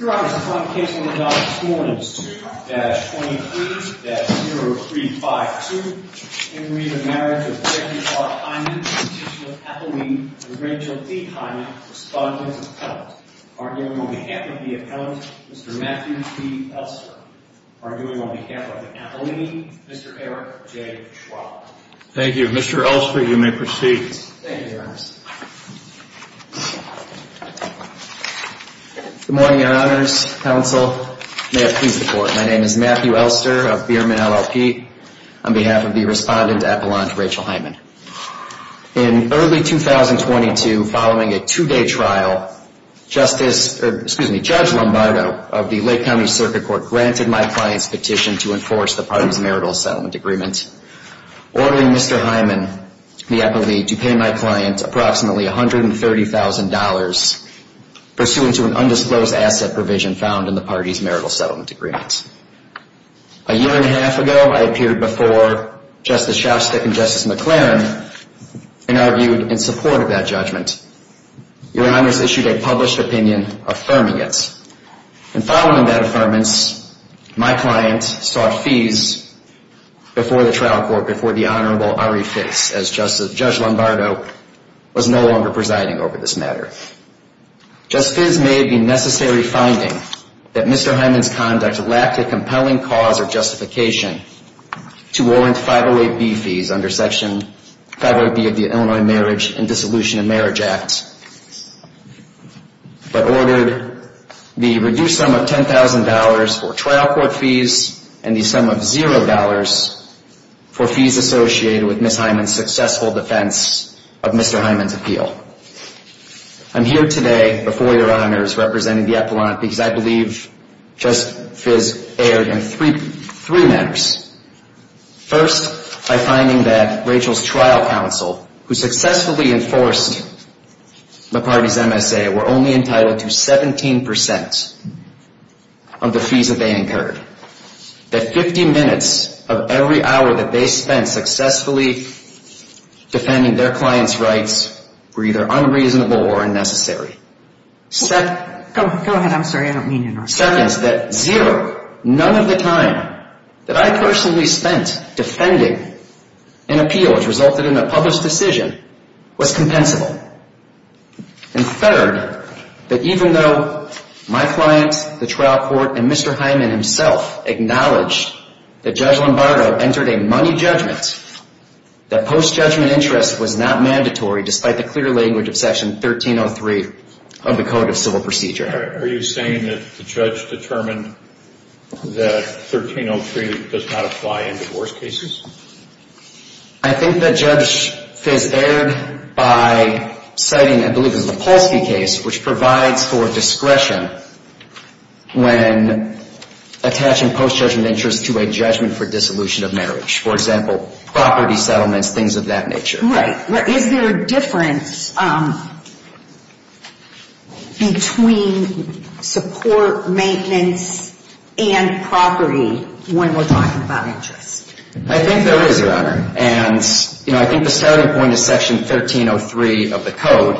Your Honor, the final case on the docket this morning is 2-23-0352, in read of the marriage of Becky R. Hyman, constitutional appellee, and Rachel D. Hyman, respondent appellant. Arguing on behalf of the appellant, Mr. Matthew P. Elster. Arguing on behalf of the appellee, Mr. Eric J. Schwab. Thank you. Mr. Elster, you may proceed. Thank you, Your Honor. Good morning, Your Honors. Counsel, may it please the Court. My name is Matthew Elster of Bierman, LLP, on behalf of the respondent appellant, Rachel Hyman. In early 2022, following a two-day trial, Justice, excuse me, Judge Lombardo of the Lake County Circuit Court granted my client's petition to enforce the parties' marital settlement agreement, ordering Mr. Hyman, the appellee, to pay my client approximately $130,000 pursuant to an undisclosed asset provision found in the parties' marital settlement agreement. A year and a half ago, I appeared before Justice Shostak and Justice McLaren and argued in support of that judgment. Your Honors issued a published opinion affirming it. And following that affirmance, my client sought fees before the trial court, before the Honorable Ari Fix, as Judge Lombardo was no longer presiding over this matter. Justice Fizz made the necessary finding that Mr. Hyman's conduct lacked a compelling cause or justification to warrant 508B fees under Section 508B of the Illinois Marriage and Dissolution of Marriage Act, but ordered the reduced sum of $10,000 for trial court fees and the sum of $0 for fees associated with Ms. Hyman's successful defense of Mr. Hyman's appeal. I'm here today before Your Honors representing the Appellant because I believe Justice Fizz erred in three matters. First, by finding that Rachel's trial counsel, who successfully enforced the parties' MSA, were only entitled to 17% of the fees that they incurred. That 50 minutes of every hour that they spent successfully defending their client's rights were either unreasonable or unnecessary. Go ahead, I'm sorry, I don't mean to interrupt. Second, that zero, none of the time that I personally spent defending an appeal which resulted in a published decision was compensable. And third, that even though my client, the trial court, and Mr. Hyman himself acknowledged that Judge Lombardo entered a money judgment, that post-judgment interest was not mandatory despite the clear language of Section 1303 of the Code of Civil Procedure. Are you saying that the judge determined that 1303 does not apply in divorce cases? I think that Judge Fizz erred by citing, I believe it was the Polsky case, which provides for discretion when attaching post-judgment interest to a judgment for dissolution of marriage. For example, property settlements, things of that nature. Right, but is there a difference between support, maintenance, and property when we're talking about interest? I think there is, Your Honor, and I think the starting point is Section 1303 of the Code,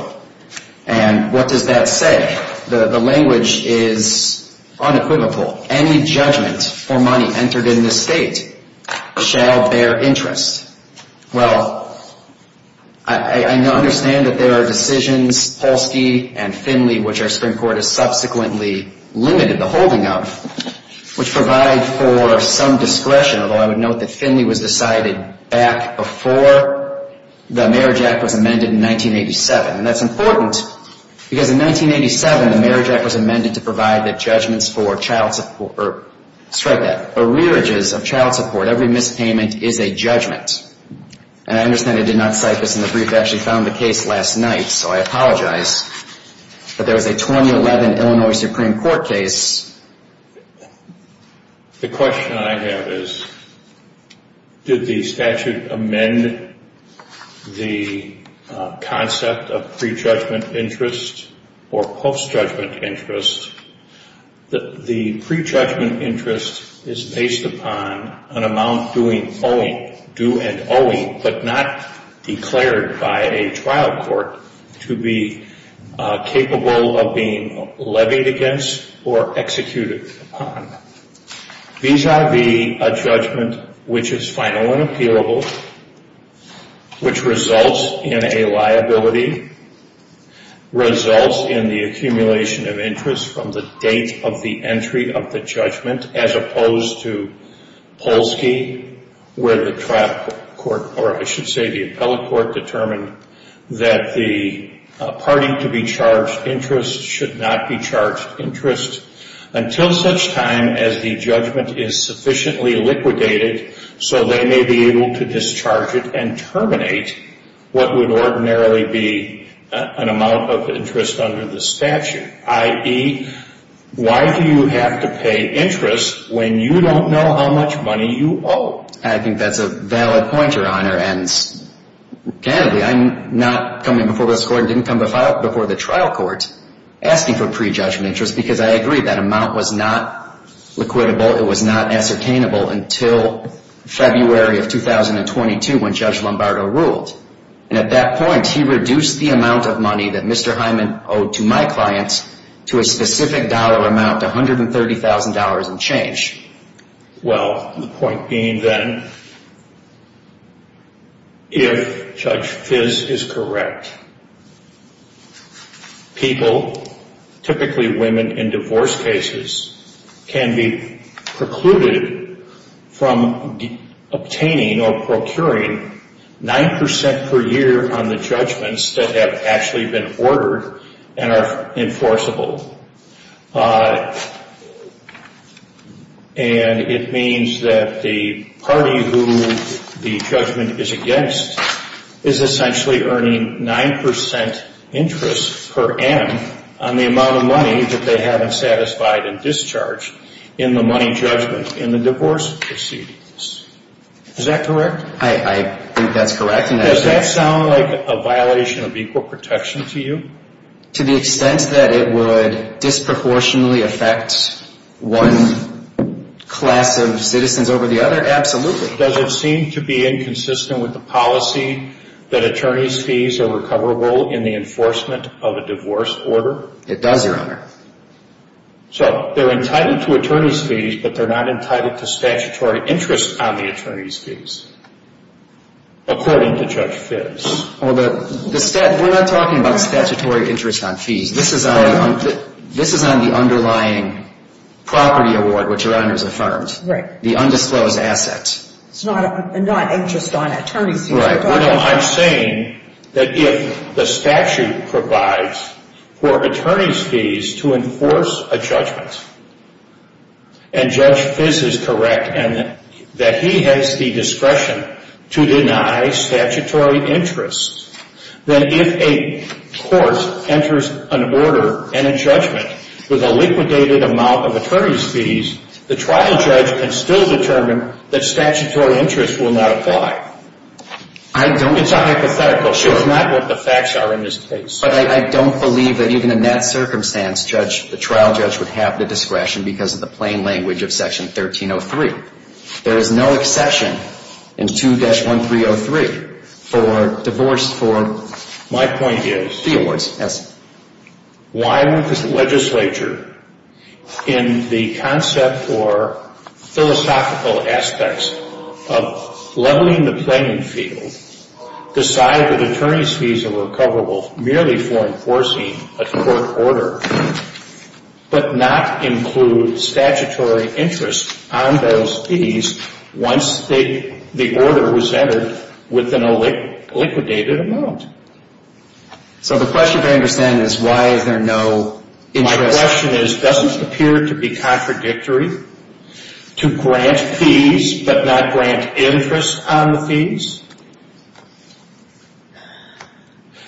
and what does that say? The language is unequivocal. Any judgment for money entered in this state shall bear interest. Well, I understand that there are decisions, Polsky and Finley, which our Supreme Court has subsequently limited the holding of, which provide for some discretion, although I would note that Finley was decided back before the Marriage Act was amended in 1987. And that's important, because in 1987 the Marriage Act was amended to provide that judgments for child support, or, strike that, for rearages of child support, every mispayment is a judgment. And I understand I did not cite this in the brief, I actually found the case last night, so I apologize. But there was a 2011 Illinois Supreme Court case. The question I have is, did the statute amend the concept of pre-judgment interest or post-judgment interest? The pre-judgment interest is based upon an amount due and owing, but not declared by a trial court to be capable of being levied against or executed upon. Vis-a-vis a judgment which is final and appealable, which results in a liability, results in the accumulation of interest from the date of the entry of the judgment, as opposed to Polsky, where the trial court, or I should say the appellate court, determined that the party to be charged interest should not be charged interest until such time as the judgment is sufficiently liquidated so they may be able to discharge it and terminate what would ordinarily be an amount of interest under the statute, i.e. why do you have to pay interest when you don't know how much money you owe? I think that's a valid pointer, Honor, and candidly I'm not coming before this court and didn't come before the trial court asking for pre-judgment interest because I agree that amount was not liquidable, it was not ascertainable until February of 2022 when Judge Lombardo ruled, and at that point he reduced the amount of money that Mr. Hyman owed to my clients to a specific dollar amount, $130,000 and change. Well, the point being then, if Judge Fiss is correct, people, typically women in divorce cases, can be precluded from obtaining or procuring 9% per year on the judgments that have actually been ordered and are enforceable. And it means that the party who the judgment is against is essentially earning 9% interest per M on the amount of money that they haven't satisfied and discharged in the money judgment in the divorce proceedings. Is that correct? I think that's correct. Does that sound like a violation of equal protection to you? To the extent that it would disproportionately affect one class of citizens over the other, absolutely. Does it seem to be inconsistent with the policy that attorney's fees are recoverable in the enforcement of a divorce order? It does, Your Honor. So they're entitled to attorney's fees, but they're not entitled to statutory interest on the attorney's fees, according to Judge Fiss. Well, we're not talking about statutory interest on fees. This is on the underlying property award, which Your Honor has affirmed. Right. The undisclosed assets. It's not an interest on attorney's fees. Right. Well, I'm saying that if the statute provides for attorney's fees to enforce a judgment, and Judge Fiss is correct in that he has the discretion to deny statutory interest, then if a court enters an order and a judgment with a liquidated amount of attorney's fees, the trial judge can still determine that statutory interest will not apply. I don't. It's a hypothetical. Sure. It's not what the facts are in this case. But I don't believe that even in that circumstance, Judge, the trial judge would have the discretion because of the plain language of Section 1303. There is no exception in 2-1303 for divorce for. My point is. Yes. Why would this legislature, in the concept or philosophical aspects of leveling the playing field, decide that attorney's fees are recoverable merely for enforcing a court order, but not include statutory interest on those fees once the order was entered within a liquidated amount? So the question, I understand, is why is there no interest? My question is, doesn't it appear to be contradictory to grant fees but not grant interest on the fees?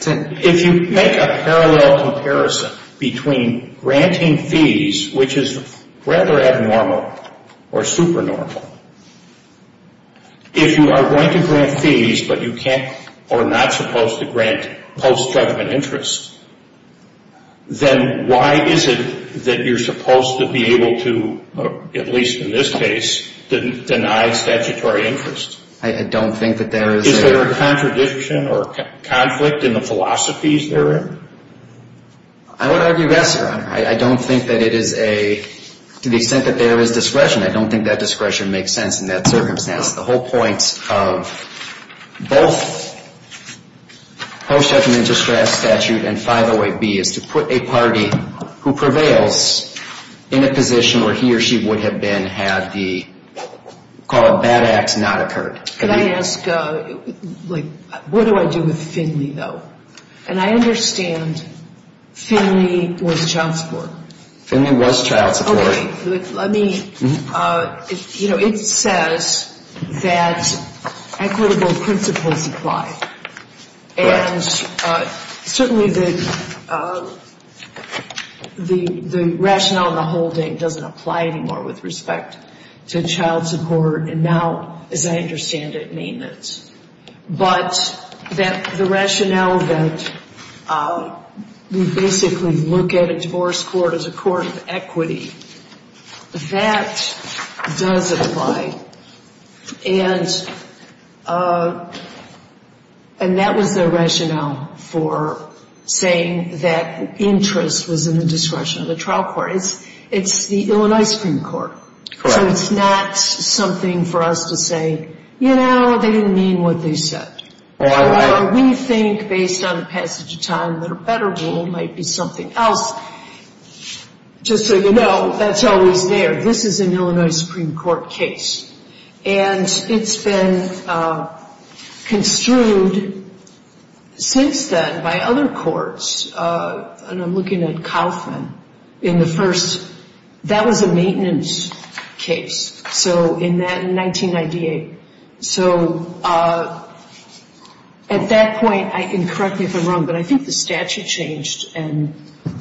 If you make a parallel comparison between granting fees, which is rather abnormal or supernormal, if you are going to grant post-judgment interest, then why is it that you're supposed to be able to, at least in this case, deny statutory interest? I don't think that there is. Is there a contradiction or conflict in the philosophies therein? I would argue yes, Your Honor. I don't think that it is a, to the extent that there is discretion, I don't think that discretion makes sense in that circumstance. The whole point of both post-judgment interest statute and 508B is to put a party who prevails in a position where he or she would have been had the, call it bad acts, not occurred. Can I ask, what do I do with Finley though? And I understand Finley was child support. Finley was child support. Let me, you know, it says that equitable principles apply. And certainly the rationale in the holding doesn't apply anymore with respect to child support and now, as I understand it, maintenance. But the rationale that we basically look at a divorce court as a that does apply. And that was the rationale for saying that interest was in the discretion of the trial court. It's the ill and ice cream court. So it's not something for us to say, you know, they didn't mean what they said. Or we think based on the passage of time that a better rule might be something else. Just so you know, that's always there. This is an Illinois Supreme Court case. And it's been construed since then by other courts. And I'm looking at Kaufman in the first, that was a maintenance case. So in that, in 1998. So at that point, I can correct me if I'm wrong, but I think the statute changed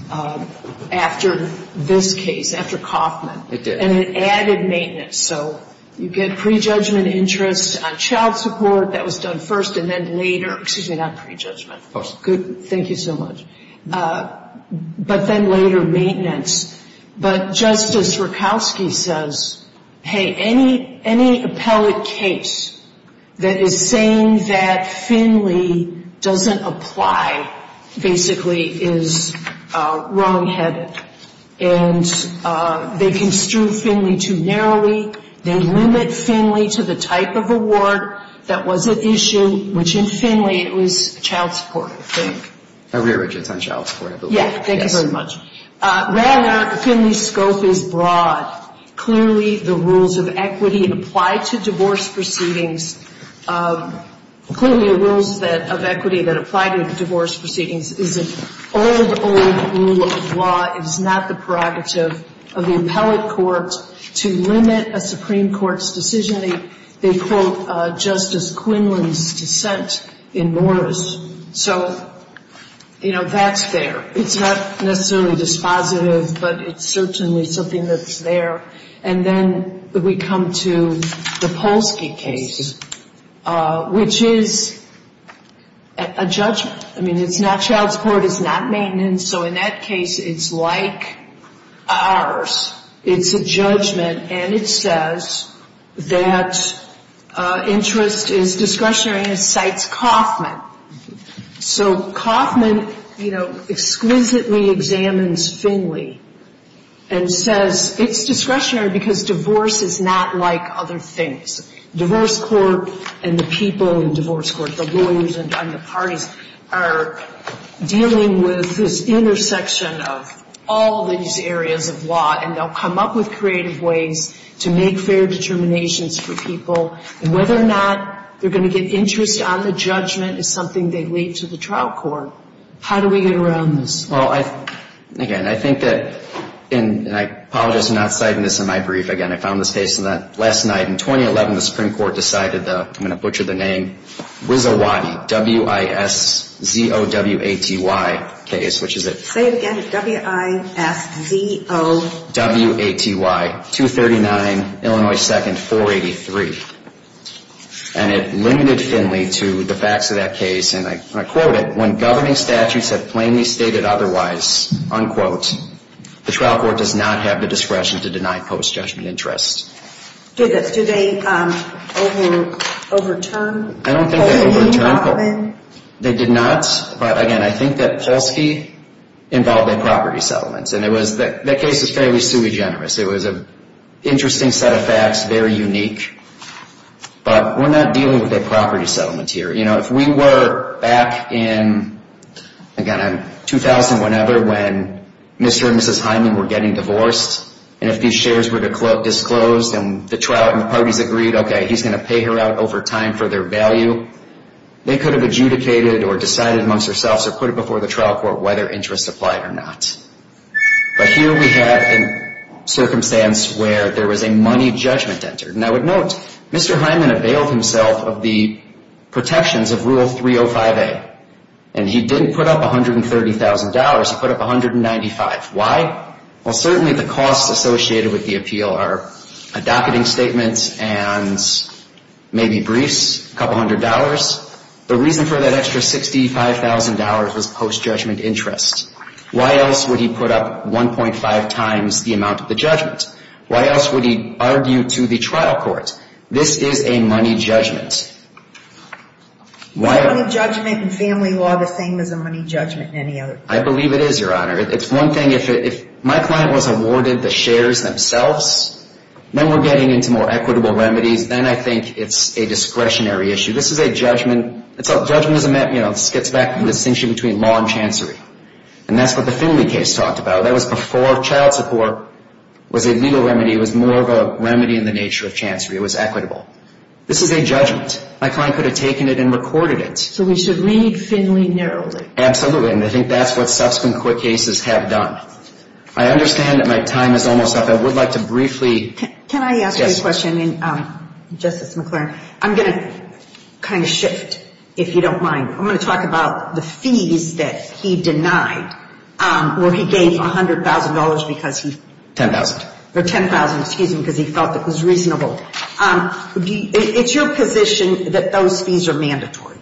after this case, after Kaufman. And it added maintenance. So you get prejudgment interest on child support. That was done first. And then later, excuse me, not prejudgment. Good. Thank you so much. But then later, maintenance. But Justice Rakowski says, hey, any appellate case that is saying that Finley doesn't apply, basically, is wrongheaded. And they construed Finley too narrowly. They limit Finley to the type of award that was at issue, which in Finley, it was child support, I think. A rear widget's on child support, I believe. Thank you very much. Rather, Finley's scope is broad. Clearly, the rules of equity apply to divorce proceedings. Clearly, the rules of equity that apply to divorce proceedings is an old, old rule of law. It is not the prerogative of the appellate court to limit a Supreme Court's decision. They quote Justice Quinlan's dissent in Morris. So that's there. It's not necessarily dispositive, but it's certainly something that's there. And then we come to the Polsky case, which is a judgment. I mean, it's not child support. It's not maintenance. So in that case, it's like ours. It's a judgment, and it says that interest is discretionary and it cites Coffman. So Coffman, you know, exquisitely examines Finley and says it's discretionary because divorce is not like other things. Divorce court and the people in divorce court, the lawyers and the are dealing with this intersection of all these areas of law, and they'll come up with creative ways to make fair determinations for people. And whether or not they're going to get interest on the judgment is something they leave to the trial court. How do we get around this? Well, again, I think that, and I apologize for not citing this in my brief. Again, I found this case last night. In 2011, the Supreme Court decided to, I'm going to butcher the name, WISOWATI, W-I-S-Z-O-W-A-T-Y case, which is it? Say it again. W-I-S-Z-O-W-A-T-Y, 239, Illinois 2nd, 483. And it limited Finley to the facts of that case, and I quote it, when governing statutes have plainly stated otherwise, unquote, the trial court does not have the discretion to deny post-judgment interest. Do they overturn? I don't think they overturn. They did not, but again, I think that Polsky involved a property settlement. And it was, that case is fairly sui generis. It was an interesting set of facts, very unique. But we're not dealing with a property settlement here. You know, if we were back in, again, 2000, whenever, when Mr. and Mrs. Hyman were getting divorced, and if these shares were disclosed, and the trial parties agreed, okay, he's going to pay her out over time for their value, they could have adjudicated or decided amongst themselves or put it before the trial court whether interest applied or not. But here we had a circumstance where there was a money judgment entered. And I would note, Mr. Hyman availed himself of the protections of Rule 305A. And he didn't put up $130,000. He put up $195,000. Why? Well, certainly the costs associated with the appeal are a docketing statement and maybe briefs, a couple hundred dollars. The reason for that extra $65,000 was post-judgment interest. Why else would he put up 1.5 times the amount of the judgment? Why else would he argue to the trial court? This is a money judgment. Is a money judgment in family law the same as a money judgment in any other? I believe it is, Your Honor. It's one thing if my client was awarded the shares themselves, then we're getting into more equitable remedies. Then I think it's a discretionary issue. This is a judgment. Judgment is a, you know, it gets back to the distinction between law and chancery. And that's what the Finley case talked about. That was before child was a legal remedy. It was more of a remedy in the nature of chancery. It was equitable. This is a judgment. My client could have taken it and recorded it. So we should read Finley narrowly. Absolutely. And I think that's what subsequent court cases have done. I understand that my time is almost up. I would like to briefly... Can I ask you a question, Justice McClure? I'm going to kind of shift, if you don't mind. I'm going to ask you a question. Ten thousand. Ten thousand. Excuse me, because he thought that was reasonable. It's your position that those fees are mandatory?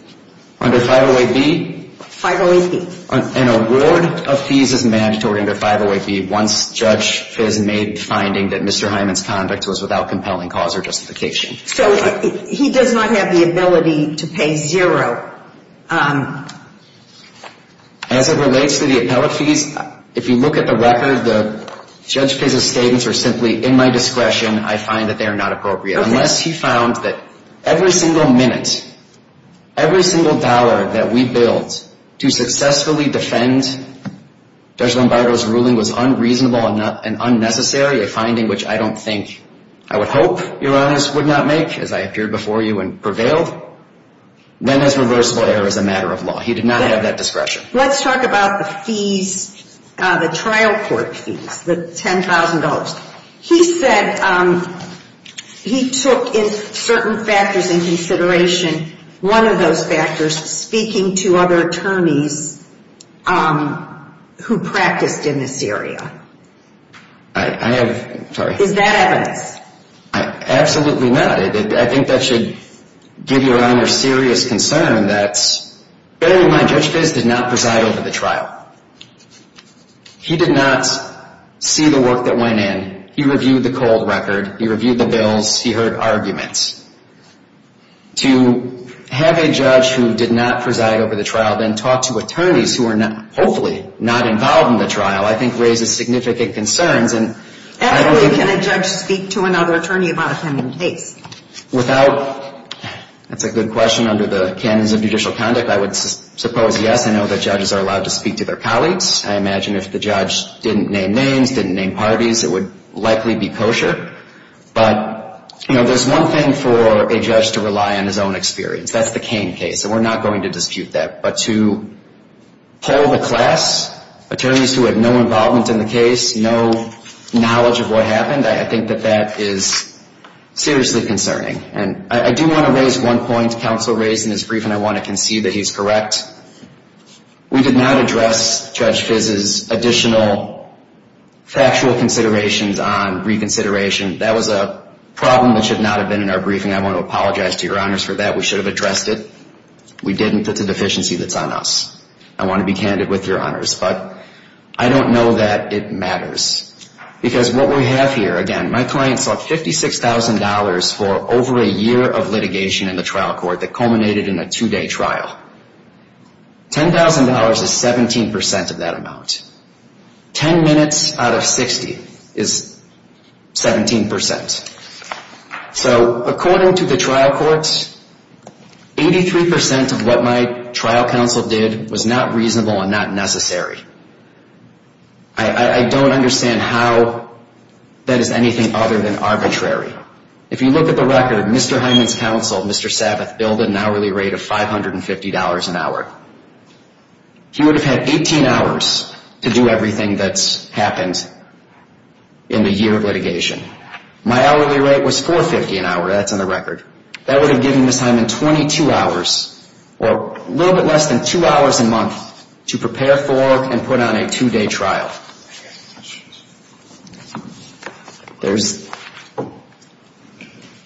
Under 508B? 508B. An award of fees is mandatory under 508B once Judge Fis made the finding that Mr. Hyman's conduct was without compelling cause or justification. So he does not have the ability to pay zero? As it relates to the appellate fees, if you look at the record, the Judge Fis' statements are simply in my discretion. I find that they are not appropriate unless he found that every single minute, every single dollar that we billed to successfully defend Judge Lombardo's ruling was unreasonable and unnecessary, a finding which I don't think, I would hope, your Honor, would not make, as I appeared before you and prevailed, then as reversible error is a matter of law. He did not have that discretion. Let's talk about the fees, the trial court fees, the $10,000. He said he took in certain factors in consideration, one of those factors, speaking to other attorneys who practiced in this area. I have, sorry. Is that evidence? Absolutely not. I think that should give your Honor serious concern that, bear in mind, Judge Fis did not preside over the trial. He did not see the work that went in. He reviewed the cold record. He reviewed the bills. He heard arguments. To have a judge who did not preside over the trial then talk to attorneys who are hopefully not involved in the trial, I think raises significant concerns. Ethically, can a judge speak to another attorney about a pending case? Without, that's a good question. Under the canons of judicial conduct, I would suppose yes. I know that judges are allowed to speak to their colleagues. I imagine if the judge didn't name names, didn't name parties, it would likely be kosher. But there's one thing for a judge to rely on his own experience. That's the Cain case. We're not going to dispute that. But to poll the class, attorneys who had no involvement in the case, no knowledge of what happened, I think that that is seriously concerning. I do want to raise one point counsel raised in his briefing. I want to concede that he's correct. We did not address Judge Fis' additional factual considerations on reconsideration. That was a problem that should not have been in our briefing. I want to apologize to your Honors for that. We should have addressed it. We didn't. That's a deficiency that's I want to be candid with your Honors. But I don't know that it matters. Because what we have here, again, my client sought $56,000 for over a year of litigation in the trial court that culminated in a two-day trial. $10,000 is 17% of that amount. Ten minutes out of 60 is 17%. So according to the trial courts, 83% of what my trial counsel did was not reasonable and not necessary. I don't understand how that is anything other than arbitrary. If you look at the record, Mr. Hyman's counsel, Mr. Sabbath, billed an hourly rate of $550 an hour. He would have had 18 hours to do everything that's happened in a year of litigation. My hourly rate was $450 an hour. That's in the record. That would have given Mr. Hyman 22 hours, or a little bit less than two hours a month, to prepare for and put on a two-day trial. Do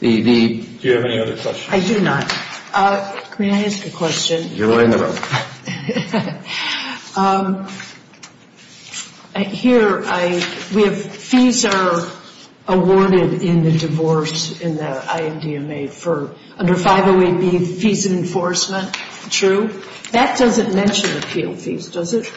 you have any other questions? I do not. Can I ask a question? You're in the room. Okay. Here, we have fees are awarded in the divorce in the IMDMA for under 508B, fees and enforcement. True? That doesn't mention appeal fees, does it?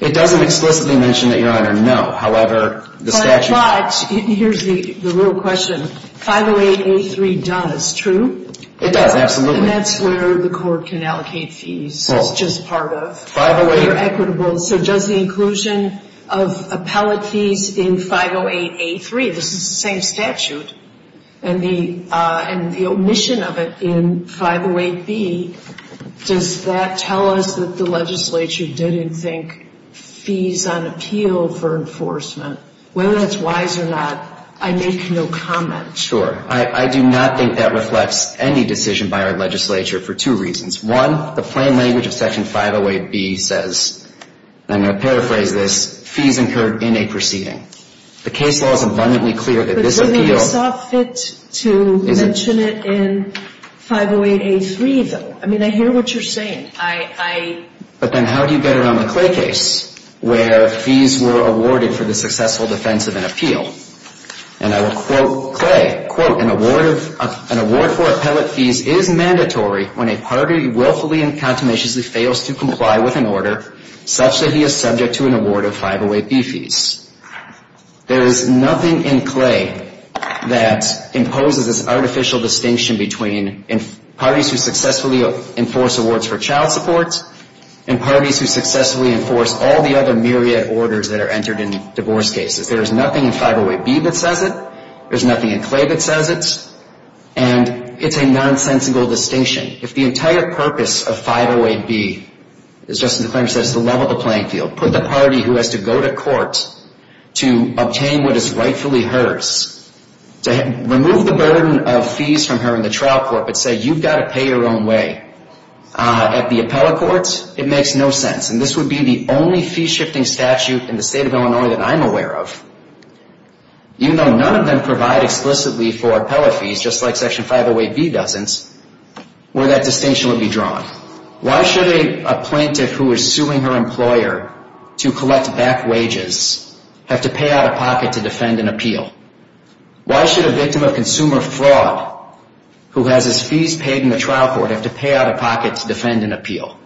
It doesn't explicitly mention that, Your Honor. No. However, the statute... But here's the real question. 508A3 does, true? It does, absolutely. And that's where the court can allocate fees. It's just part of... 508... They're equitable. So does the inclusion of appellate fees in 508A3, this is the same statute, and the omission of it in 508B, does that tell us that the legislature didn't think fees on appeal for enforcement, whether that's wise or not, I make no comment. Sure. I do not think that reflects any decision by our legislature for two reasons. One, the plain language of Section 508B says, and I'm going to paraphrase this, fees incurred in a proceeding. The case law is abundantly clear that this appeal... But wouldn't it be soft fit to mention it in 508A3, though? I mean, I hear what you're saying. But then how do you get around the Clay case where fees were awarded for the successful defense of an appeal? And I will quote Clay, quote, an award for appellate fees is mandatory when a party willfully and contaminatiously fails to comply with an order such that he is subject to an award of 508B fees. There is nothing in Clay that imposes this artificial distinction between parties who successfully enforce awards for child support and parties who successfully enforce all the other myriad orders that are entered in divorce cases. There is nothing in 508B that says it. There's nothing in Clay that says it. And it's a nonsensical distinction. If the entire purpose of 508B, as Justice McClain said, is to level the playing field, put the party who has to go to court to obtain what is rightfully hers, to remove the burden of fees from her in the trial court, but say you've got to pay your own way at the appellate court, it makes no sense. And this would be the only fee-shifting statute in the state of Illinois that I'm aware of, even though none of them provide explicitly for appellate fees, just like Section 508B doesn't, where that distinction would be drawn. Why should a plaintiff who is suing her employer to collect back wages have to pay out of pocket to defend an appeal? Why should a victim of consumer fraud, who has his fees paid in the trial court, have to pay out of pocket to defend an appeal?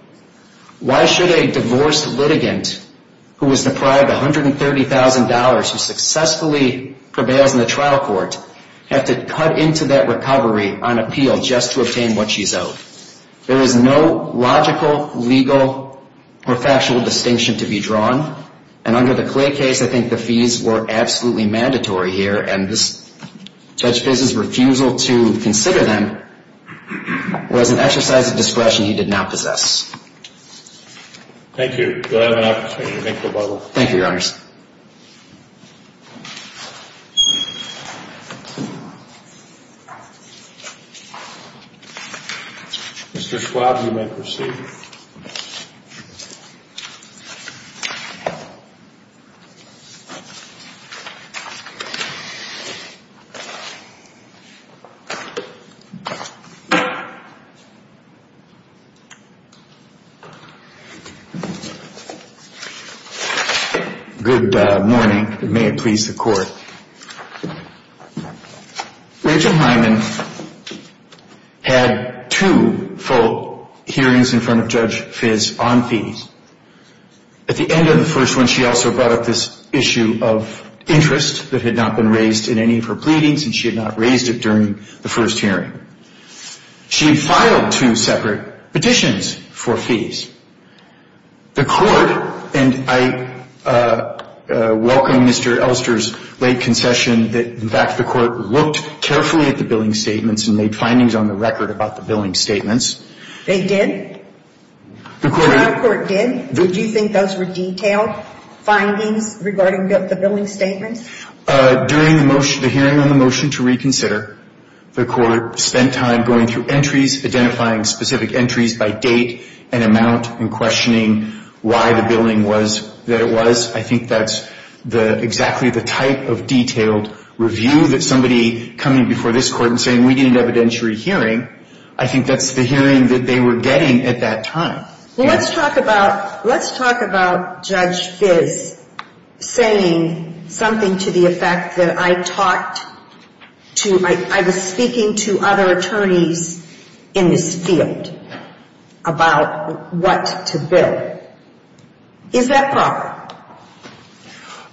Why should a divorced litigant who is deprived $130,000, who successfully prevails in the trial court, have to cut into that recovery on appeal just to obtain what she's owed? There is no logical, legal, or factual distinction to be drawn. And under the Clay case, I think the fees were absolutely mandatory here. And Judge Fiz's refusal to consider them was an exercise of discretionary authority. And I think that's what we're going to have to look at in the case. Thank you. Do I have an opportunity to make the bubble? Thank you, Your Honors. Mr. Schwab, you may proceed. Good morning, and may it please the Court. Rachel Hyman had two full hearings in front of Judge Fiz on fees. At the end of the first one, she also brought up this issue of interest that had not been raised in any of her pleadings, and she had not raised it during the first hearing. She had filed two separate petitions for fees. The Court, and I welcome Mr. Elster's late concession, in fact, the Court looked carefully at the billing statements and made findings on the record about the billing statements. They did? The trial court did? Did you think those were detailed findings regarding the billing statements? During the hearing on the motion to reconsider, the Court spent time going through entries, identifying specific entries by date and amount, and questioning why the billing was that it was. I think that's exactly the type of detailed review that somebody coming before this Court and saying, we need an evidentiary hearing, I think that's the hearing that they were getting at that time. Let's talk about Judge Fiz saying something to the effect that I talked to, I was speaking to other attorneys in this field about what to bill. Is that proper?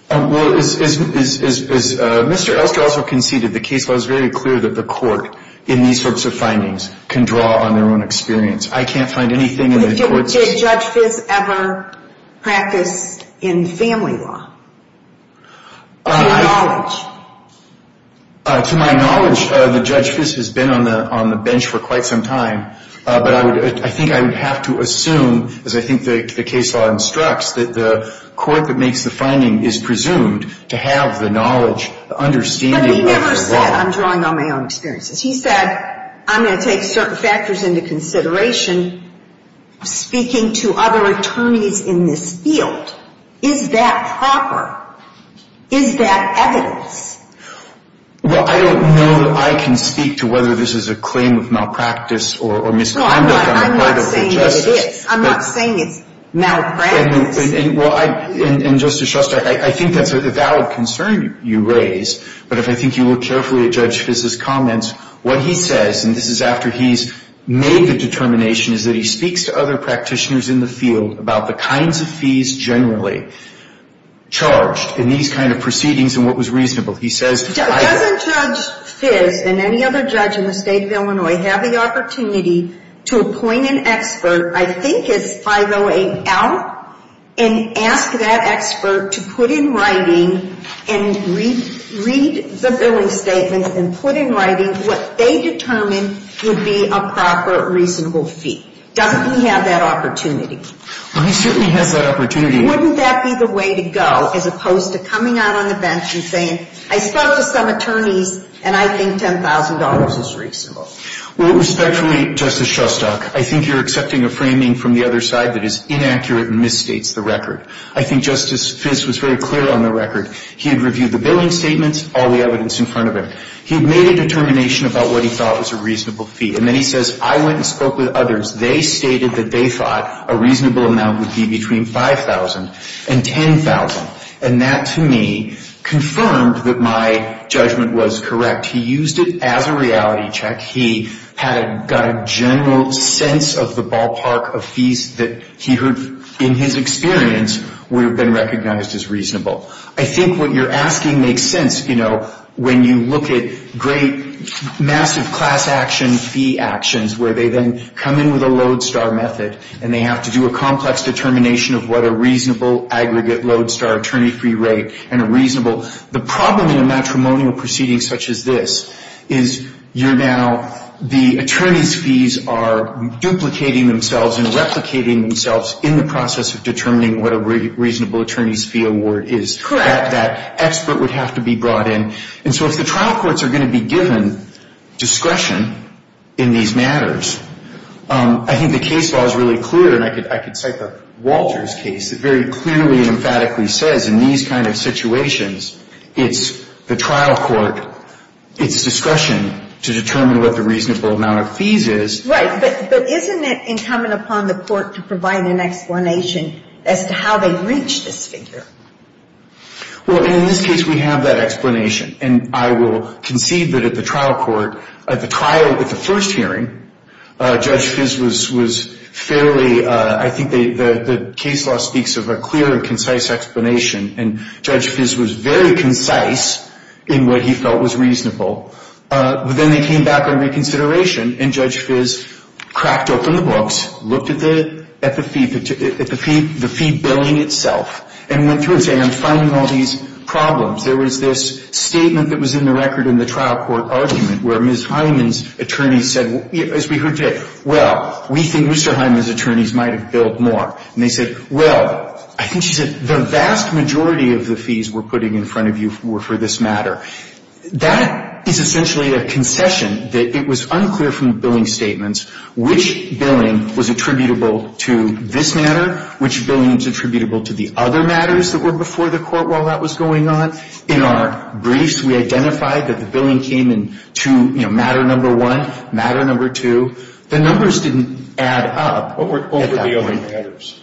Well, as Mr. Elster also conceded, the case law is very clear that the Court, in these sorts of findings, can draw on their own experience. I can't find anything Did Judge Fiz ever practice in family law? To my knowledge, the Judge Fiz has been on the bench for quite some time, but I think I would have to assume, as I think the case law instructs, that the Court that makes the finding is presumed to have the knowledge, the understanding of the law. He never said, I'm drawing on my own experiences. He said, I'm going to take certain into consideration, speaking to other attorneys in this field. Is that proper? Is that evidence? Well, I don't know that I can speak to whether this is a claim of malpractice or misconduct. No, I'm not saying that it is. I'm not saying it's malpractice. Well, and Justice Shostak, I think that's a valid concern you raise, but if I think you carefully at Judge Fiz's comments, what he says, and this is after he's made the determination, is that he speaks to other practitioners in the field about the kinds of fees generally charged in these kind of proceedings and what was reasonable. He says Doesn't Judge Fiz and any other judge in the state of Illinois have the opportunity to appoint an expert, I think it's 508L, and ask that expert to put in writing and read the billing statement and put in writing what they determine would be a proper, reasonable fee. Doesn't he have that opportunity? Well, he certainly has that opportunity. Wouldn't that be the way to go, as opposed to coming out on the bench and saying, I spoke to some attorneys, and I think $10,000 is reasonable? Well, respectfully, Justice Shostak, I think you're accepting a framing from the other side that is inaccurate and misstates the record. I think Justice Fiz was very clear on the record. He had reviewed the billing statements, all the evidence in front of him. He had made a determination about what he thought was a reasonable fee, and then he says, I went and spoke with others. They stated that they thought a reasonable amount would be between $5,000 and $10,000, and that, to me, confirmed that my judgment was correct. He used it as a he heard, in his experience, would have been recognized as reasonable. I think what you're asking makes sense, you know, when you look at great, massive class action fee actions, where they then come in with a lodestar method, and they have to do a complex determination of what a reasonable aggregate lodestar attorney fee rate and a reasonable. The problem in a matrimonial proceeding such as this is you're now, the attorney's fees are duplicating themselves and replicating themselves in the process of determining what a reasonable attorney's fee award is. That expert would have to be brought in. And so if the trial courts are going to be given discretion in these matters, I think the case law is really clear, and I could cite the Walters case that very clearly and emphatically says, in these kind of situations, it's the trial court, it's discretion to determine what the reasonable amount of fees is. Right, but isn't it incumbent upon the court to provide an explanation as to how they reach this figure? Well, and in this case, we have that explanation, and I will concede that at the trial court, at the trial, at the first hearing, Judge Fiss was fairly, I think the case law speaks of a clear and concise explanation, and Judge Fiss was very concise in what he felt was reasonable. Then they came back on reconsideration, and Judge Fiss cracked open the books, looked at the fee billing itself, and went through and said, I'm finding all these problems. There was this statement that was in the record in the trial court argument where Ms. Hyman's attorneys said, as we heard today, well, we think Mr. Hyman's attorneys might have billed more. And they said, well, I think she said the vast majority of the fees we're putting in front of you were for this matter. That is essentially a concession, that it was unclear from the billing statements which billing was attributable to this matter, which billing was attributable to the other matters that were before the court while that was going on. In our briefs, we identified that the billing came in to, you know, matter number one, matter number two. The numbers didn't add up. What were the other matters?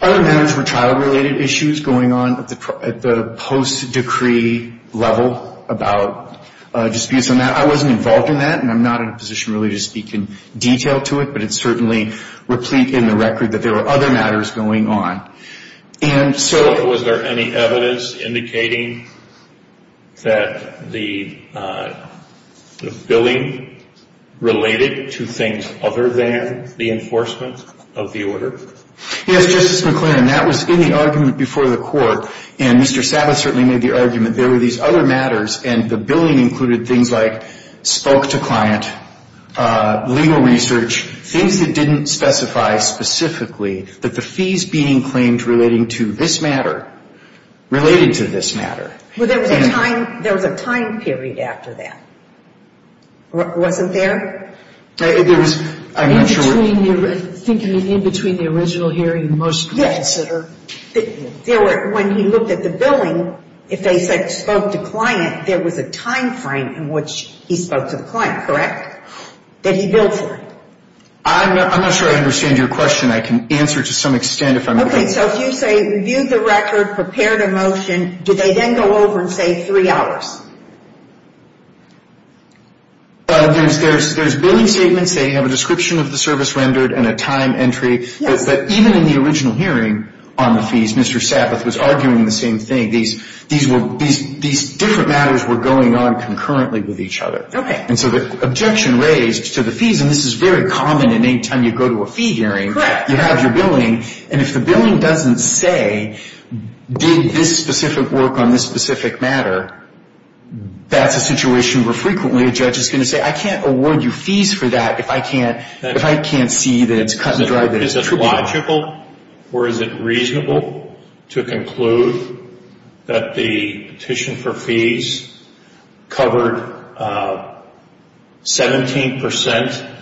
Other matters were trial-related issues going on at the post-decree level about disputes on that. I wasn't involved in that, and I'm not in a position really to speak in detail to it, but it's certainly replete in the record that there were other matters going on. And so... But was there any evidence indicating that the billing related to things other than the enforcement of the order? Yes, Justice McClain, and that was in the argument before the court. And Mr. Sabbath certainly made the argument there were these other matters, and the billing included things like spoke-to-client, legal research, things that didn't specify specifically that the fees being claimed relating to this matter related to this matter. Well, there was a time period after that, wasn't there? I'm not sure... In between the original hearing, the most... Yes. When he looked at the billing, if they said spoke-to-client, there was a time frame in which he spoke-to-client, correct? That he billed for. I'm not sure I understand your question. I can answer to some extent if I'm... Okay, so if you say reviewed the record, prepared a motion, did they then go over and say three hours? There's billing statements. They have a description of the service rendered and a time entry. But even in the original hearing on the fees, Mr. Sabbath was arguing the same thing. These different matters were going on concurrently with each other. Okay. And so the objection raised to the fees, and this is very common in any time you go to a fee hearing... ...you have your billing, and if the billing doesn't say, did this specific work on this matter, that's a situation where frequently a judge is going to say, I can't award you fees for that if I can't see that it's cut and dry, that it's true. Is this logical or is it reasonable to conclude that the petition for fees covered 17%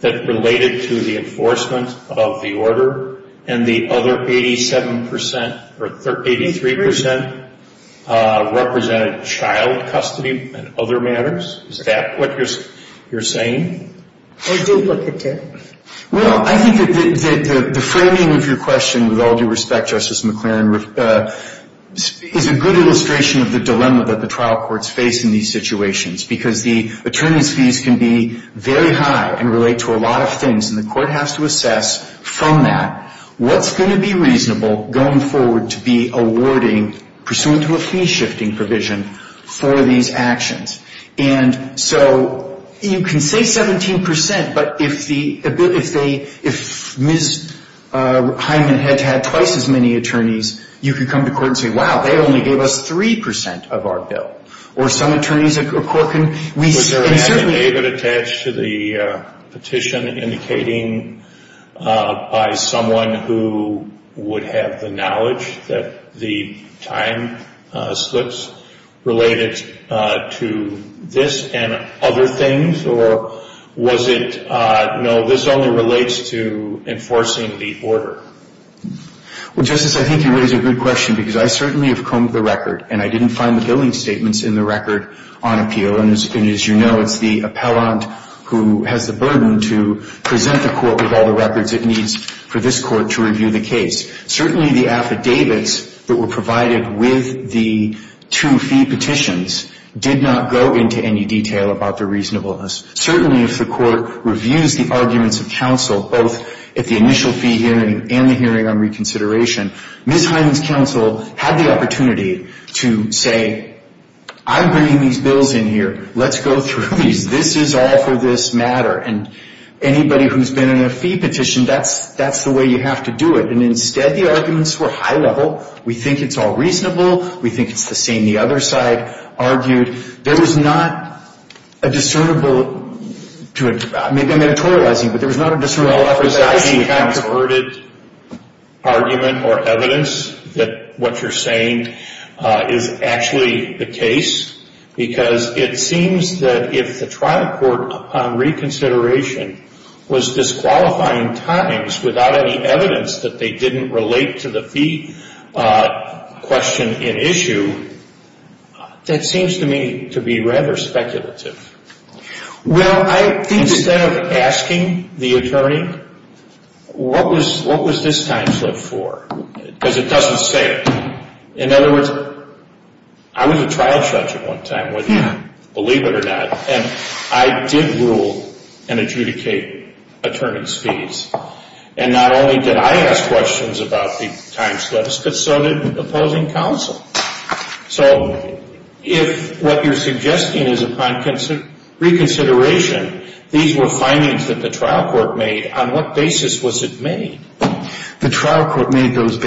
that related to the enforcement of the order, and the other 87% or 83% represented child custody and other matters? Is that what you're saying? Or duplicate, too. Well, I think that the framing of your question, with all due respect, Justice McLaren, is a good illustration of the dilemma that the trial courts face in these situations, because the attorneys' fees can be very high and relate to a lot of things, and the court has to assess from that what's going to be reasonable going forward to be awarding, pursuant to a fee-shifting provision, for these actions. And so you can say 17%, but if Ms. Hyman had had twice as many attorneys, you could come to court and say, wow, they only gave us 3% of our bill. Or some attorneys at Corkin, we certainly... Was there an added attach to the petition indicating by someone who would have the knowledge that the time slips related to this and other things? Or was it, no, this only relates to enforcing the order? Well, Justice, I think you raise a good question, because I certainly have combed the record and I didn't find the billing statements in the record on appeal. And as you know, it's the appellant who has the burden to present the court with all the records it needs for this court to review the case. Certainly, the affidavits that were provided with the two fee petitions did not go into any detail about the reasonableness. Certainly, if the court reviews the arguments of counsel, both at the initial fee hearing and the hearing on reconsideration, Ms. Hyman's counsel had the opportunity to say, I'm bringing these bills in here. Let's go through these. This is all for this matter. And anybody who's been in a fee petition, that's the way you have to do it. And instead, the arguments were high level. We think it's all reasonable. We think it's the same. The other side argued there was not a discernible... Maybe I'm editorializing, but there was not a discernible... Was there any converted argument or evidence that what you're saying is actually the case? Because it seems that if the trial court on reconsideration was disqualifying times without any evidence that they didn't relate to the fee question in issue, that seems to me to be rather speculative. Well, I think... Instead of asking the attorney, what was this timeslip for? Because it doesn't say it. In other words, I was a trial judge at one time, believe it or not. And I did rule and adjudicate attorney's fees. And not only did I ask questions about the timeslips, but so did opposing counsel. So if what you're suggesting is upon reconsideration, these were findings that the trial court made, on what basis was it made? The trial court made those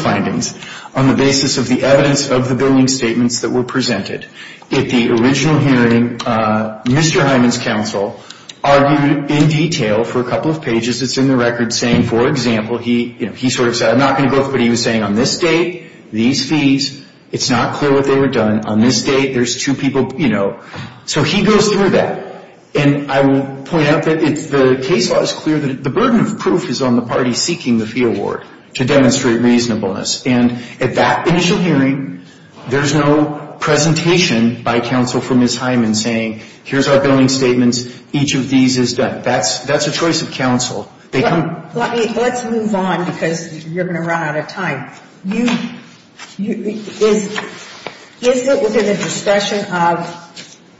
findings on the basis of the evidence of the billing statements that were presented. At the original hearing, Mr. Hyman's counsel argued in detail for a couple of pages. It's in the record saying, for example, he sort of said, I'm not going to go through, but he was saying, on this date, these fees, it's not clear what they were done. On this date, there's two people, you know. So he goes through that. And I will point out that the case law is clear that the burden of proof is on the party seeking the fee award to demonstrate reasonableness. And at that initial hearing, there's no presentation by counsel for Ms. Hyman saying, here's our billing statements. Each of these is done. That's a choice of counsel. They come Let's move on, because you're going to run out of time. Is it within the discretion of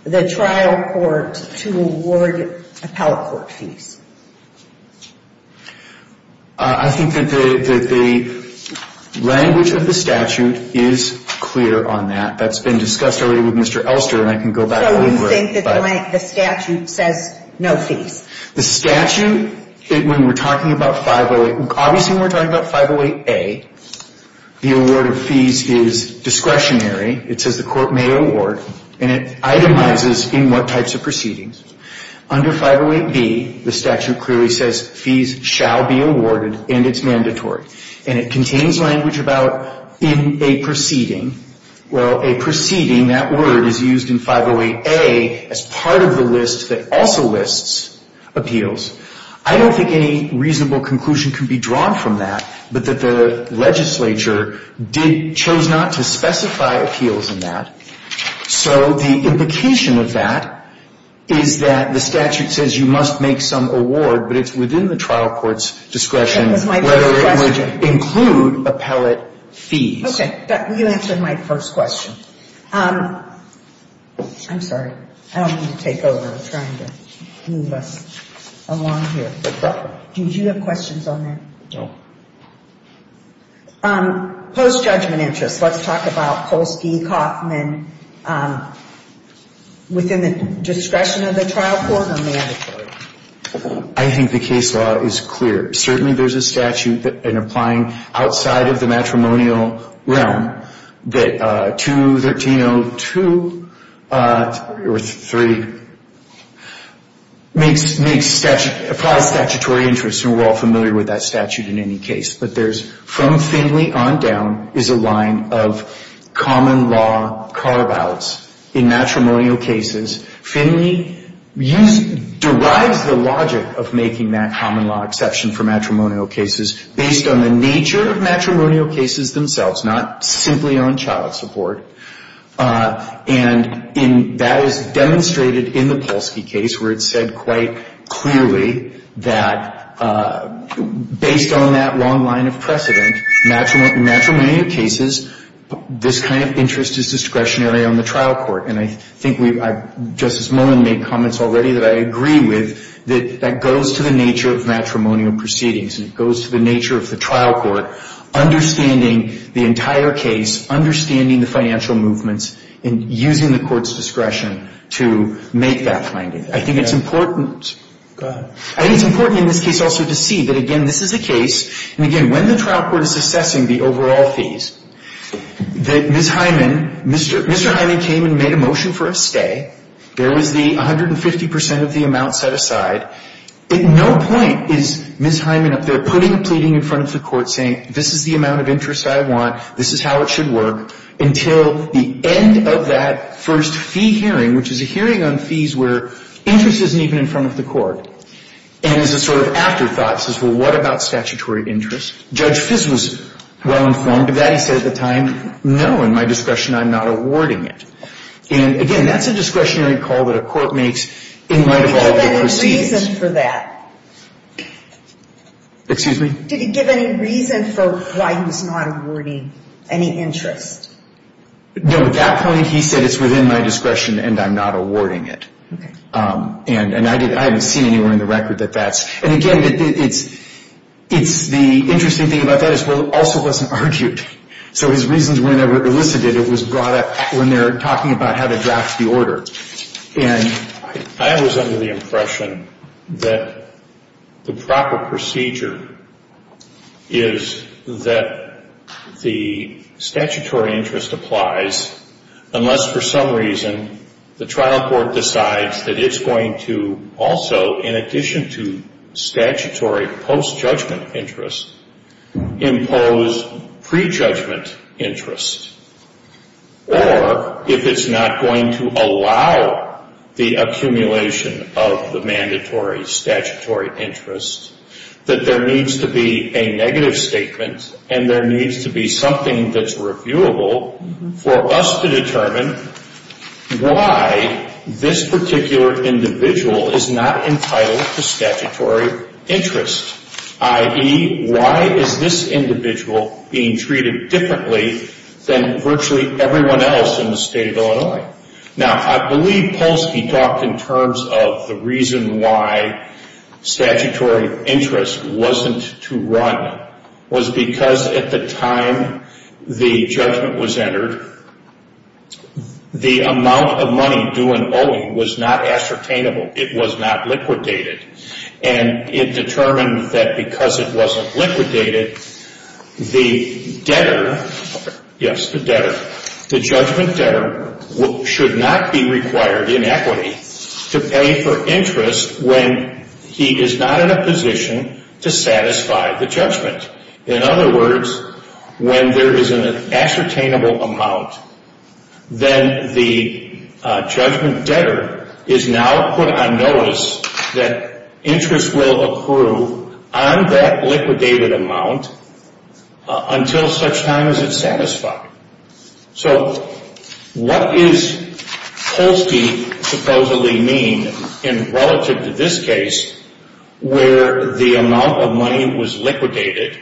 the trial court to award appellate court fees? I think that the language of the statute is clear on that. That's been discussed already with Mr. Elster, and I can go back. So you think that the statute says no fees? The statute, when we're talking about 508, obviously, we're talking about 508A. The award of fees is discretionary. It says the court may award, and it itemizes in what types of proceedings. Under 508B, the statute clearly says fees shall be awarded, and it's mandatory. And it contains language about in a proceeding. Well, a proceeding, that word is used in 508A as part of the list that also lists appeals. I don't think any reasonable conclusion can be drawn from that, but that the legislature chose not to specify appeals in that. So the implication of that is that the statute says you must make some award, but it's within the trial court's discretion whether it would include appellate fees. You answered my first question. I'm sorry. I don't want to take over trying to move us along here. Do you have questions on that? Post-judgment interests, let's talk about Polsky, Kaufman, within the discretion of the trial court or mandatory? I think the case law is clear. Certainly, there's a statute that, in applying outside of the matrimonial realm, that 213.02 or 3, makes, applies statutory interests, and we're all familiar with that statute in any case. But there's, from Finley on down, is a line of common law carve-outs in matrimonial cases. Finley derives the logic of making that common law exception for matrimonial cases based on the nature of matrimonial cases themselves, not simply on child support. And that is demonstrated in the Polsky case, where it's said quite clearly that, based on that long line of precedent, matrimonial cases, this kind of interest is discretionary on the trial court. And I think Justice Mullen made comments already that I agree with, that that goes to the nature of matrimonial proceedings, and it goes to the nature of the trial court, understanding the entire case, understanding the financial movements, and using the court's discretion to make that finding. I think it's important. Go ahead. I think it's important in this case also to see that, again, this is a case, and again, when the trial court is assessing the overall fees, that Ms. Hyman, Mr. Hyman came and made a motion for a stay. There was the 150 percent of the amount set aside. At no point is Ms. Hyman up there putting a pleading in front of the court saying, this is the amount of interest I want, this is how it should work, until the end of that first fee hearing, which is a hearing on fees where interest isn't even in front of the court, and is a sort of afterthought, says, well, what about statutory interest? Judge Fiss was well-informed of that. He said at the time, no, in my discretion, I'm not awarding it. And again, that's a discretionary call that a court makes in light of all of the Did he give any reason for that? Excuse me? Did he give any reason for why he was not awarding any interest? No, at that point, he said, it's within my discretion, and I'm not awarding it. Okay. And I haven't seen anywhere in the record that that's, and again, it's the interesting thing about that is, well, it also wasn't argued. So his reasons were never elicited. It was brought up when they were talking about how to draft the order. And I was under the impression that the proper procedure is that the statutory interest applies unless, for some reason, the trial court decides that it's going to also, in addition to statutory post-judgment interest, impose pre-judgment interest, or if it's not going to allow the accumulation of the mandatory statutory interest, that there needs to be a negative statement, and there needs to be something that's reviewable for us to determine why this particular individual is not entitled to statutory interest, i.e., why is this individual being treated differently than virtually everyone else in the state of Illinois? Now, I believe Polsky talked in terms of the reason why statutory interest wasn't to was because at the time the judgment was entered, the amount of money due and owing was not ascertainable. It was not liquidated. And it determined that because it wasn't liquidated, the debtor, yes, the debtor, the judgment debtor should not be required in equity to pay for interest when he is not in a position to satisfy the judgment. In other words, when there is an ascertainable amount, then the judgment debtor is now put on notice that interest will accrue on that liquidated amount until such time as it's satisfied. So what does Polsky supposedly mean relative to this case where the amount of money was liquidated,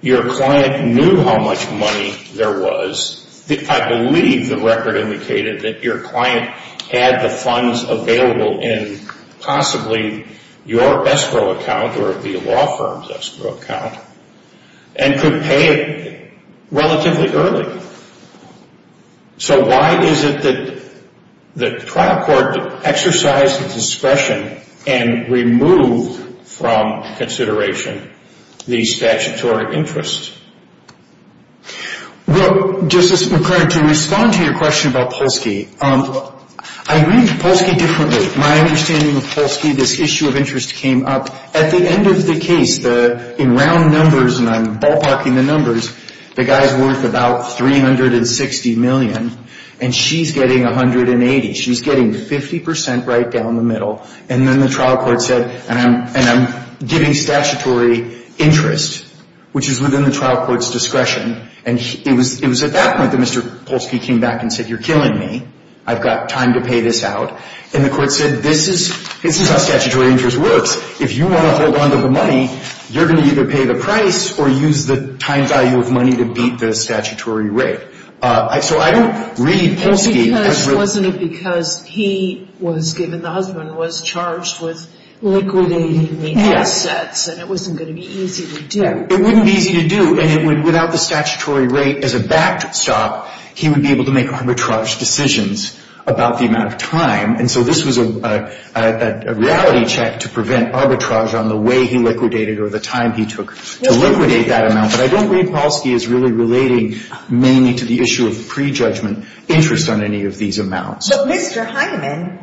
your client knew how much money there was, I believe the record indicated that your client had the funds available in possibly your escrow account or the law firm's escrow account and could pay it relatively early. So why is it that the trial court exercised its discretion and removed from consideration the statutory interest? Well, Justice McCurdy, to respond to your question about Polsky, I read Polsky differently. My understanding of Polsky, this issue of interest came up at the end of the case, in the round numbers, and I'm ballparking the numbers, the guy's worth about $360 million and she's getting $180, she's getting 50% right down the middle, and then the trial court said, and I'm giving statutory interest, which is within the trial court's discretion, and it was at that point that Mr. Polsky came back and said, you're killing me, I've got time to pay this out, and the court said, this is how statutory interest works. If you want to hold on to the money, you're going to either pay the price or use the time value of money to beat the statutory rate. So I don't read Polsky as really — Well, because, wasn't it because he was given, the husband was charged with liquidating the assets, and it wasn't going to be easy to do. It wouldn't be easy to do, and it would, without the statutory rate as a backstop, he would be able to make arbitrage decisions about the amount of time, and so this was a reality check to prevent arbitrage on the way he liquidated or the time he took to liquidate that amount, but I don't read Polsky as really relating mainly to the issue of pre-judgment interest on any of these amounts. But Mr. Hyman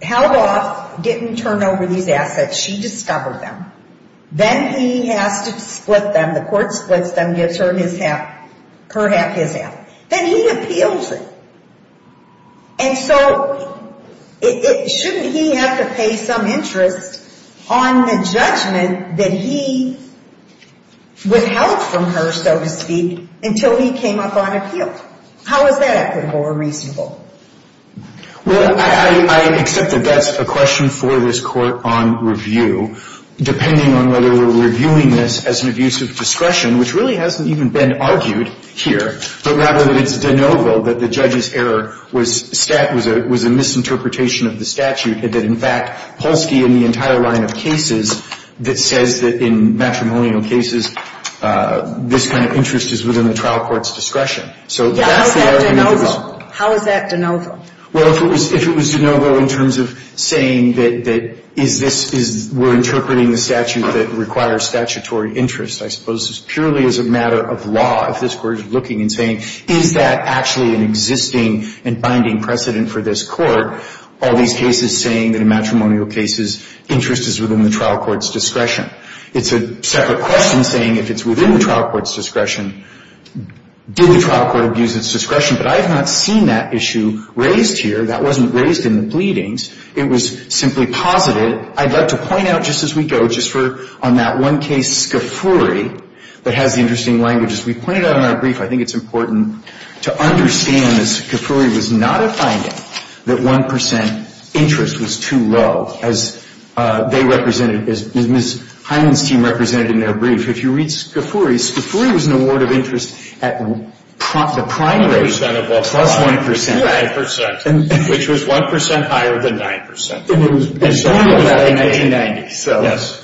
held off, didn't turn over these assets, she discovered them, then he has to split them, the court splits them, gives her his half, her half, his half. Then he appeals it. And so, shouldn't he have to pay some interest on the judgment that he withheld from her, so to speak, until he came up on appeal? How is that equitable or reasonable? Well, I accept that that's a question for this court on review, depending on whether we're reviewing this as an abuse of discretion, which really hasn't even been argued here, but rather that it's de novo that the judge's error was a misinterpretation of the statute, and that in fact, Polsky in the entire line of cases that says that in matrimonial cases, this kind of interest is within the trial court's discretion. So that's the argument of the law. How is that de novo? Well, if it was de novo in terms of saying that we're interpreting the statute that requires statutory interest, I suppose it's purely as a matter of law, if this court is looking and saying, is that actually an existing and binding precedent for this court, all these cases saying that in matrimonial cases, interest is within the trial court's discretion. It's a separate question saying if it's within the trial court's discretion, did the trial court abuse its discretion? But I have not seen that issue raised here. That wasn't raised in the pleadings. It was simply posited. I'd like to point out just as we go, just for on that one case, Scafuri, that has the interesting language. As we pointed out in our brief, I think it's important to understand that Scafuri was not a finding that 1 percent interest was too low, as they represented, as Ms. Hyman's team represented in their brief. If you read Scafuri, Scafuri was an award of interest at the primary rate plus 1 percent. It was 2 percent, which was 1 percent higher than 9 percent. And it was back in 1990. Yes.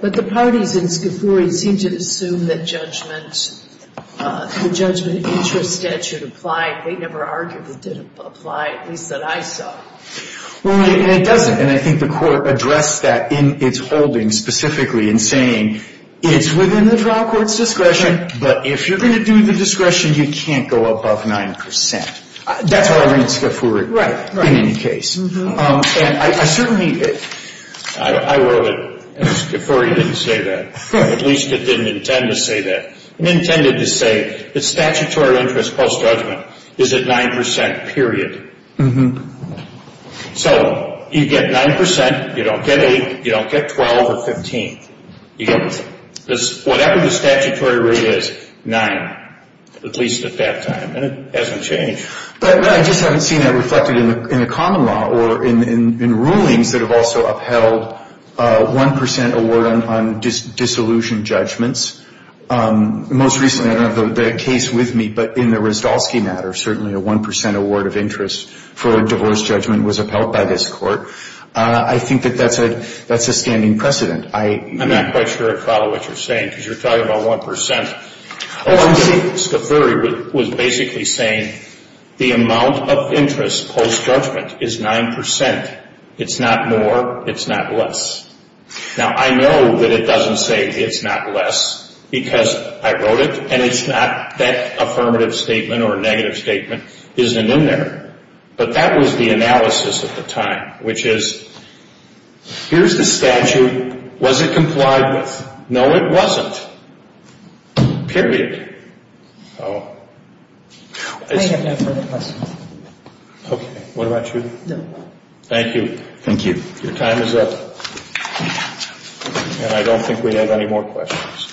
But the parties in Scafuri seemed to assume that judgment, the judgment of interest statute applied. They never argued it did apply, at least that I saw. Well, and it doesn't. And I think the court addressed that in its holding specifically in saying it's within the trial court's discretion, but if you're going to do the discretion, you can't go above 9 percent. That's what I read in Scafuri. Right, right. In any case. And I certainly, I wrote it, and Scafuri didn't say that. At least it didn't intend to say that. It intended to say that statutory interest post-judgment is at 9 percent, period. So you get 9 percent, you don't get 8, you don't get 12 or 15. You get whatever the statutory rate is, 9, at least at that time. And it hasn't changed. But I just haven't seen that reflected in the common law or in rulings that have also upheld 1 percent award on dissolution judgments. Most recently, I don't have the case with me, but in the Rzdalski matter, certainly a 1 percent award of interest for a divorce judgment was upheld by this court. I think that that's a standing precedent. I'm not quite sure I follow what you're saying, because you're talking about 1 percent. Oh, I'm sorry. Scafuri was basically saying the amount of interest post-judgment is 9 percent. It's not more. It's not less. Now, I know that it doesn't say it's not less, because I wrote it, and it's not that affirmative statement or negative statement isn't in there. But that was the analysis at the time, which is, here's the statute. Was it complied with? No, it wasn't. Period. Okay. What about you? Thank you. Thank you. Your time is up. And I don't think we have any more questions.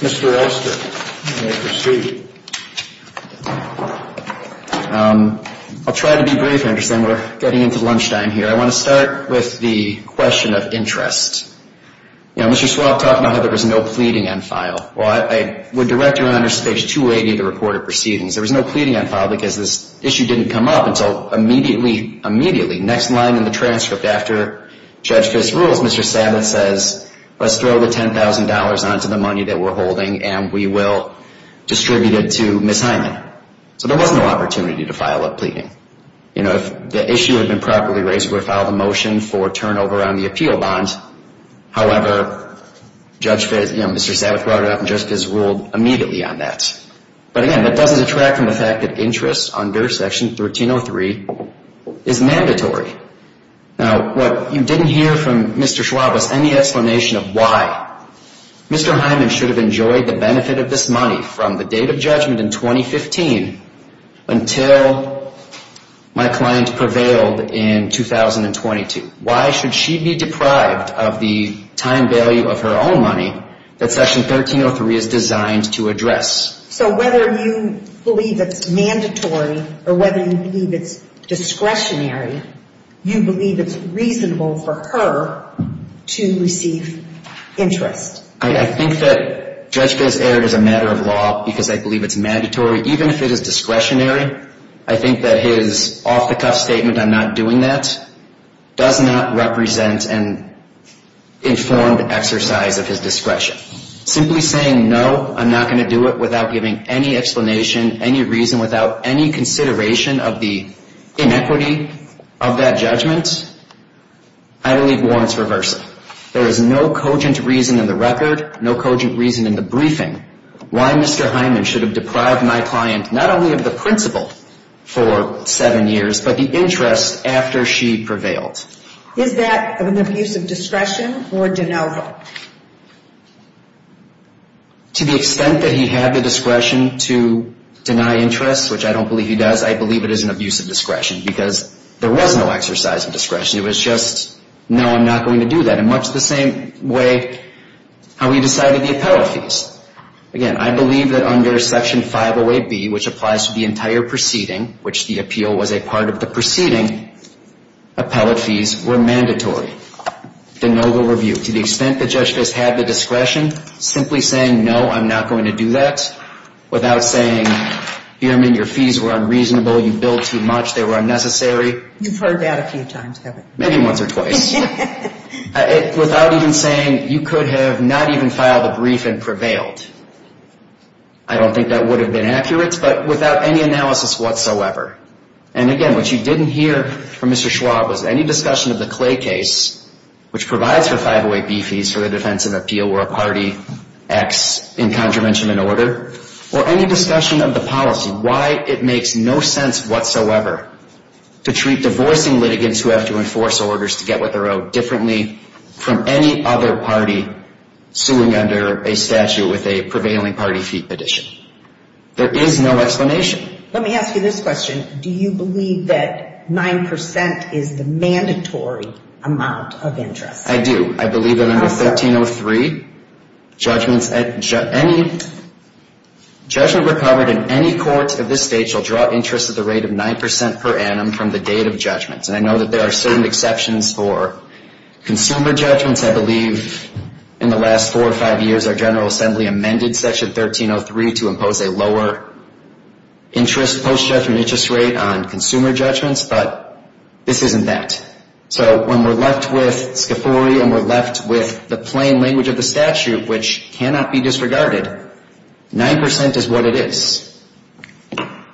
Mr. Oster, you may proceed. I'll try to be brief, Anderson. We're getting into lunchtime here. I want to start with the question of interest. Now, Mr. Swapp talked about how there was no pleading on file. Well, I would direct Your Honor to page 280 of the report of proceedings. There was no pleading on file, because this issue didn't come up until immediately, immediately, next line in the transcript after page 280 of the report of proceedings. Judge Fisk rules, Mr. Savitz says, let's throw the $10,000 on to the money that we're holding, and we will distribute it to Ms. Hyman. So there was no opportunity to file a pleading. You know, if the issue had been properly raised, we would have filed a motion for turnover on the appeal bond. However, Mr. Savitz brought it up, and Judge Fisk ruled immediately on that. But again, that doesn't detract from the fact that interest under Section 1303 is mandatory. Now, what you didn't hear from Mr. Swapp was any explanation of why. Mr. Hyman should have enjoyed the benefit of this money from the date of judgment in 2015 until my client prevailed in 2022. Why should she be deprived of the time value of her own money that Section 1303 is designed to address? So whether you believe it's mandatory or whether you believe it's discretionary, you believe it's reasonable for her to receive interest? I think that Judge Fisk erred as a matter of law because I believe it's mandatory. Even if it is discretionary, I think that his off-the-cuff statement on not doing that does not represent an informed exercise of his discretion. Simply saying no, I'm not going to do it without giving any explanation, any reason, without any consideration of the inequity of that judgment, I believe warrants reversal. There is no cogent reason in the record, no cogent reason in the briefing, why Mr. Hyman should have deprived my client not only of the principal for seven years, but the interest after she prevailed. Is that an abuse of discretion or de novo? To the extent that he had the discretion to deny interest, which I don't believe he does, I believe it is an abuse of discretion because there was no exercise of discretion. It was just, no, I'm not going to do that. And much the same way how he decided the appellate fees. Again, I believe that under Section 508B, which applies to the entire proceeding, which the appeal was a part of the proceeding, appellate fees were mandatory. De novo review. To the extent that Judge Fisk had the discretion, simply saying no, I'm not going to do that without saying, Hyman, your fees were unreasonable. You billed too much. They were unnecessary. You've heard that a few times, haven't you? Maybe once or twice. Without even saying you could have not even filed a brief and prevailed. I don't think that would have been accurate, but without any analysis whatsoever. And again, what you didn't hear from Mr. Schwab was any discussion of the Clay case, which provides for 508B fees for the defense of appeal where a party acts in contravention of an order, or any discussion of the policy, why it makes no sense whatsoever to treat divorcing litigants who have to enforce orders to get what they're owed differently from any other party suing under a statute with a prevailing party fee petition. There is no explanation. Let me ask you this question. Do you believe that 9% is the mandatory amount of interest? I do. I believe that under 1303, judgment recovered in any court of this state shall draw interest at the rate of 9% per annum from the date of judgment. And I know that there are certain exceptions for consumer judgments. I believe in the last four or five years, our General Assembly amended Section 1303 to impose a lower interest, post-judgment interest rate on consumer judgments. But this isn't that. So when we're left with Scafuri and we're left with the plain language of the statute, which cannot be disregarded, 9% is what it is.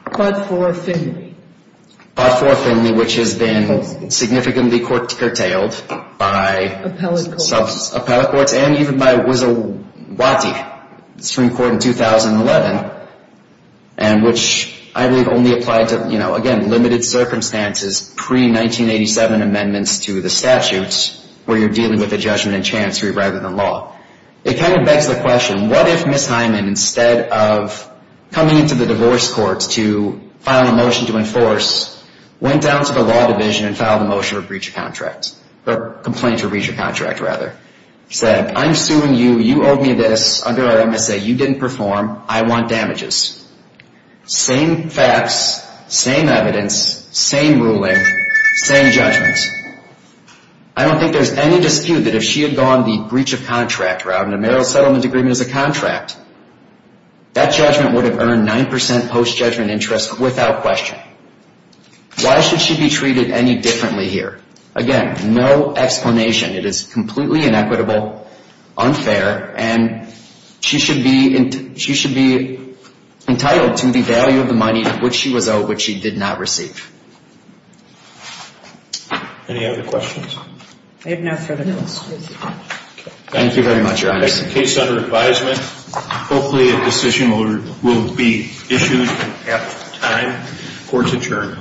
But for Finley. But for Finley, which has been significantly curtailed by appellate courts and even by Wattie Supreme Court in 2011, and which I believe only applied to, you know, again, limited circumstances pre-1987 amendments to the statutes where you're dealing with a judgment in chancery rather than law. It kind of begs the question, what if Ms. Hyman, instead of coming into the divorce courts to file a motion to enforce, went down to the law division and filed a motion for breach of contract, or complaint for breach of contract, rather, said, I'm suing you. You owe me this. Under our MSA, you didn't perform. I want damages. Same facts, same evidence, same ruling, same judgments. I don't think there's any dispute that if she had gone the breach of contract route in a marital settlement agreement as a contract, that judgment would have earned 9% post-judgment interest without question. Why should she be treated any differently here? Again, no explanation. It is completely inequitable, unfair, and she should be entitled to the value of the money which she was owed, which she did not receive. Any other questions? Thank you very much, Your Honors. The case is under advisement. Hopefully, a decision will be issued at time for it to turn.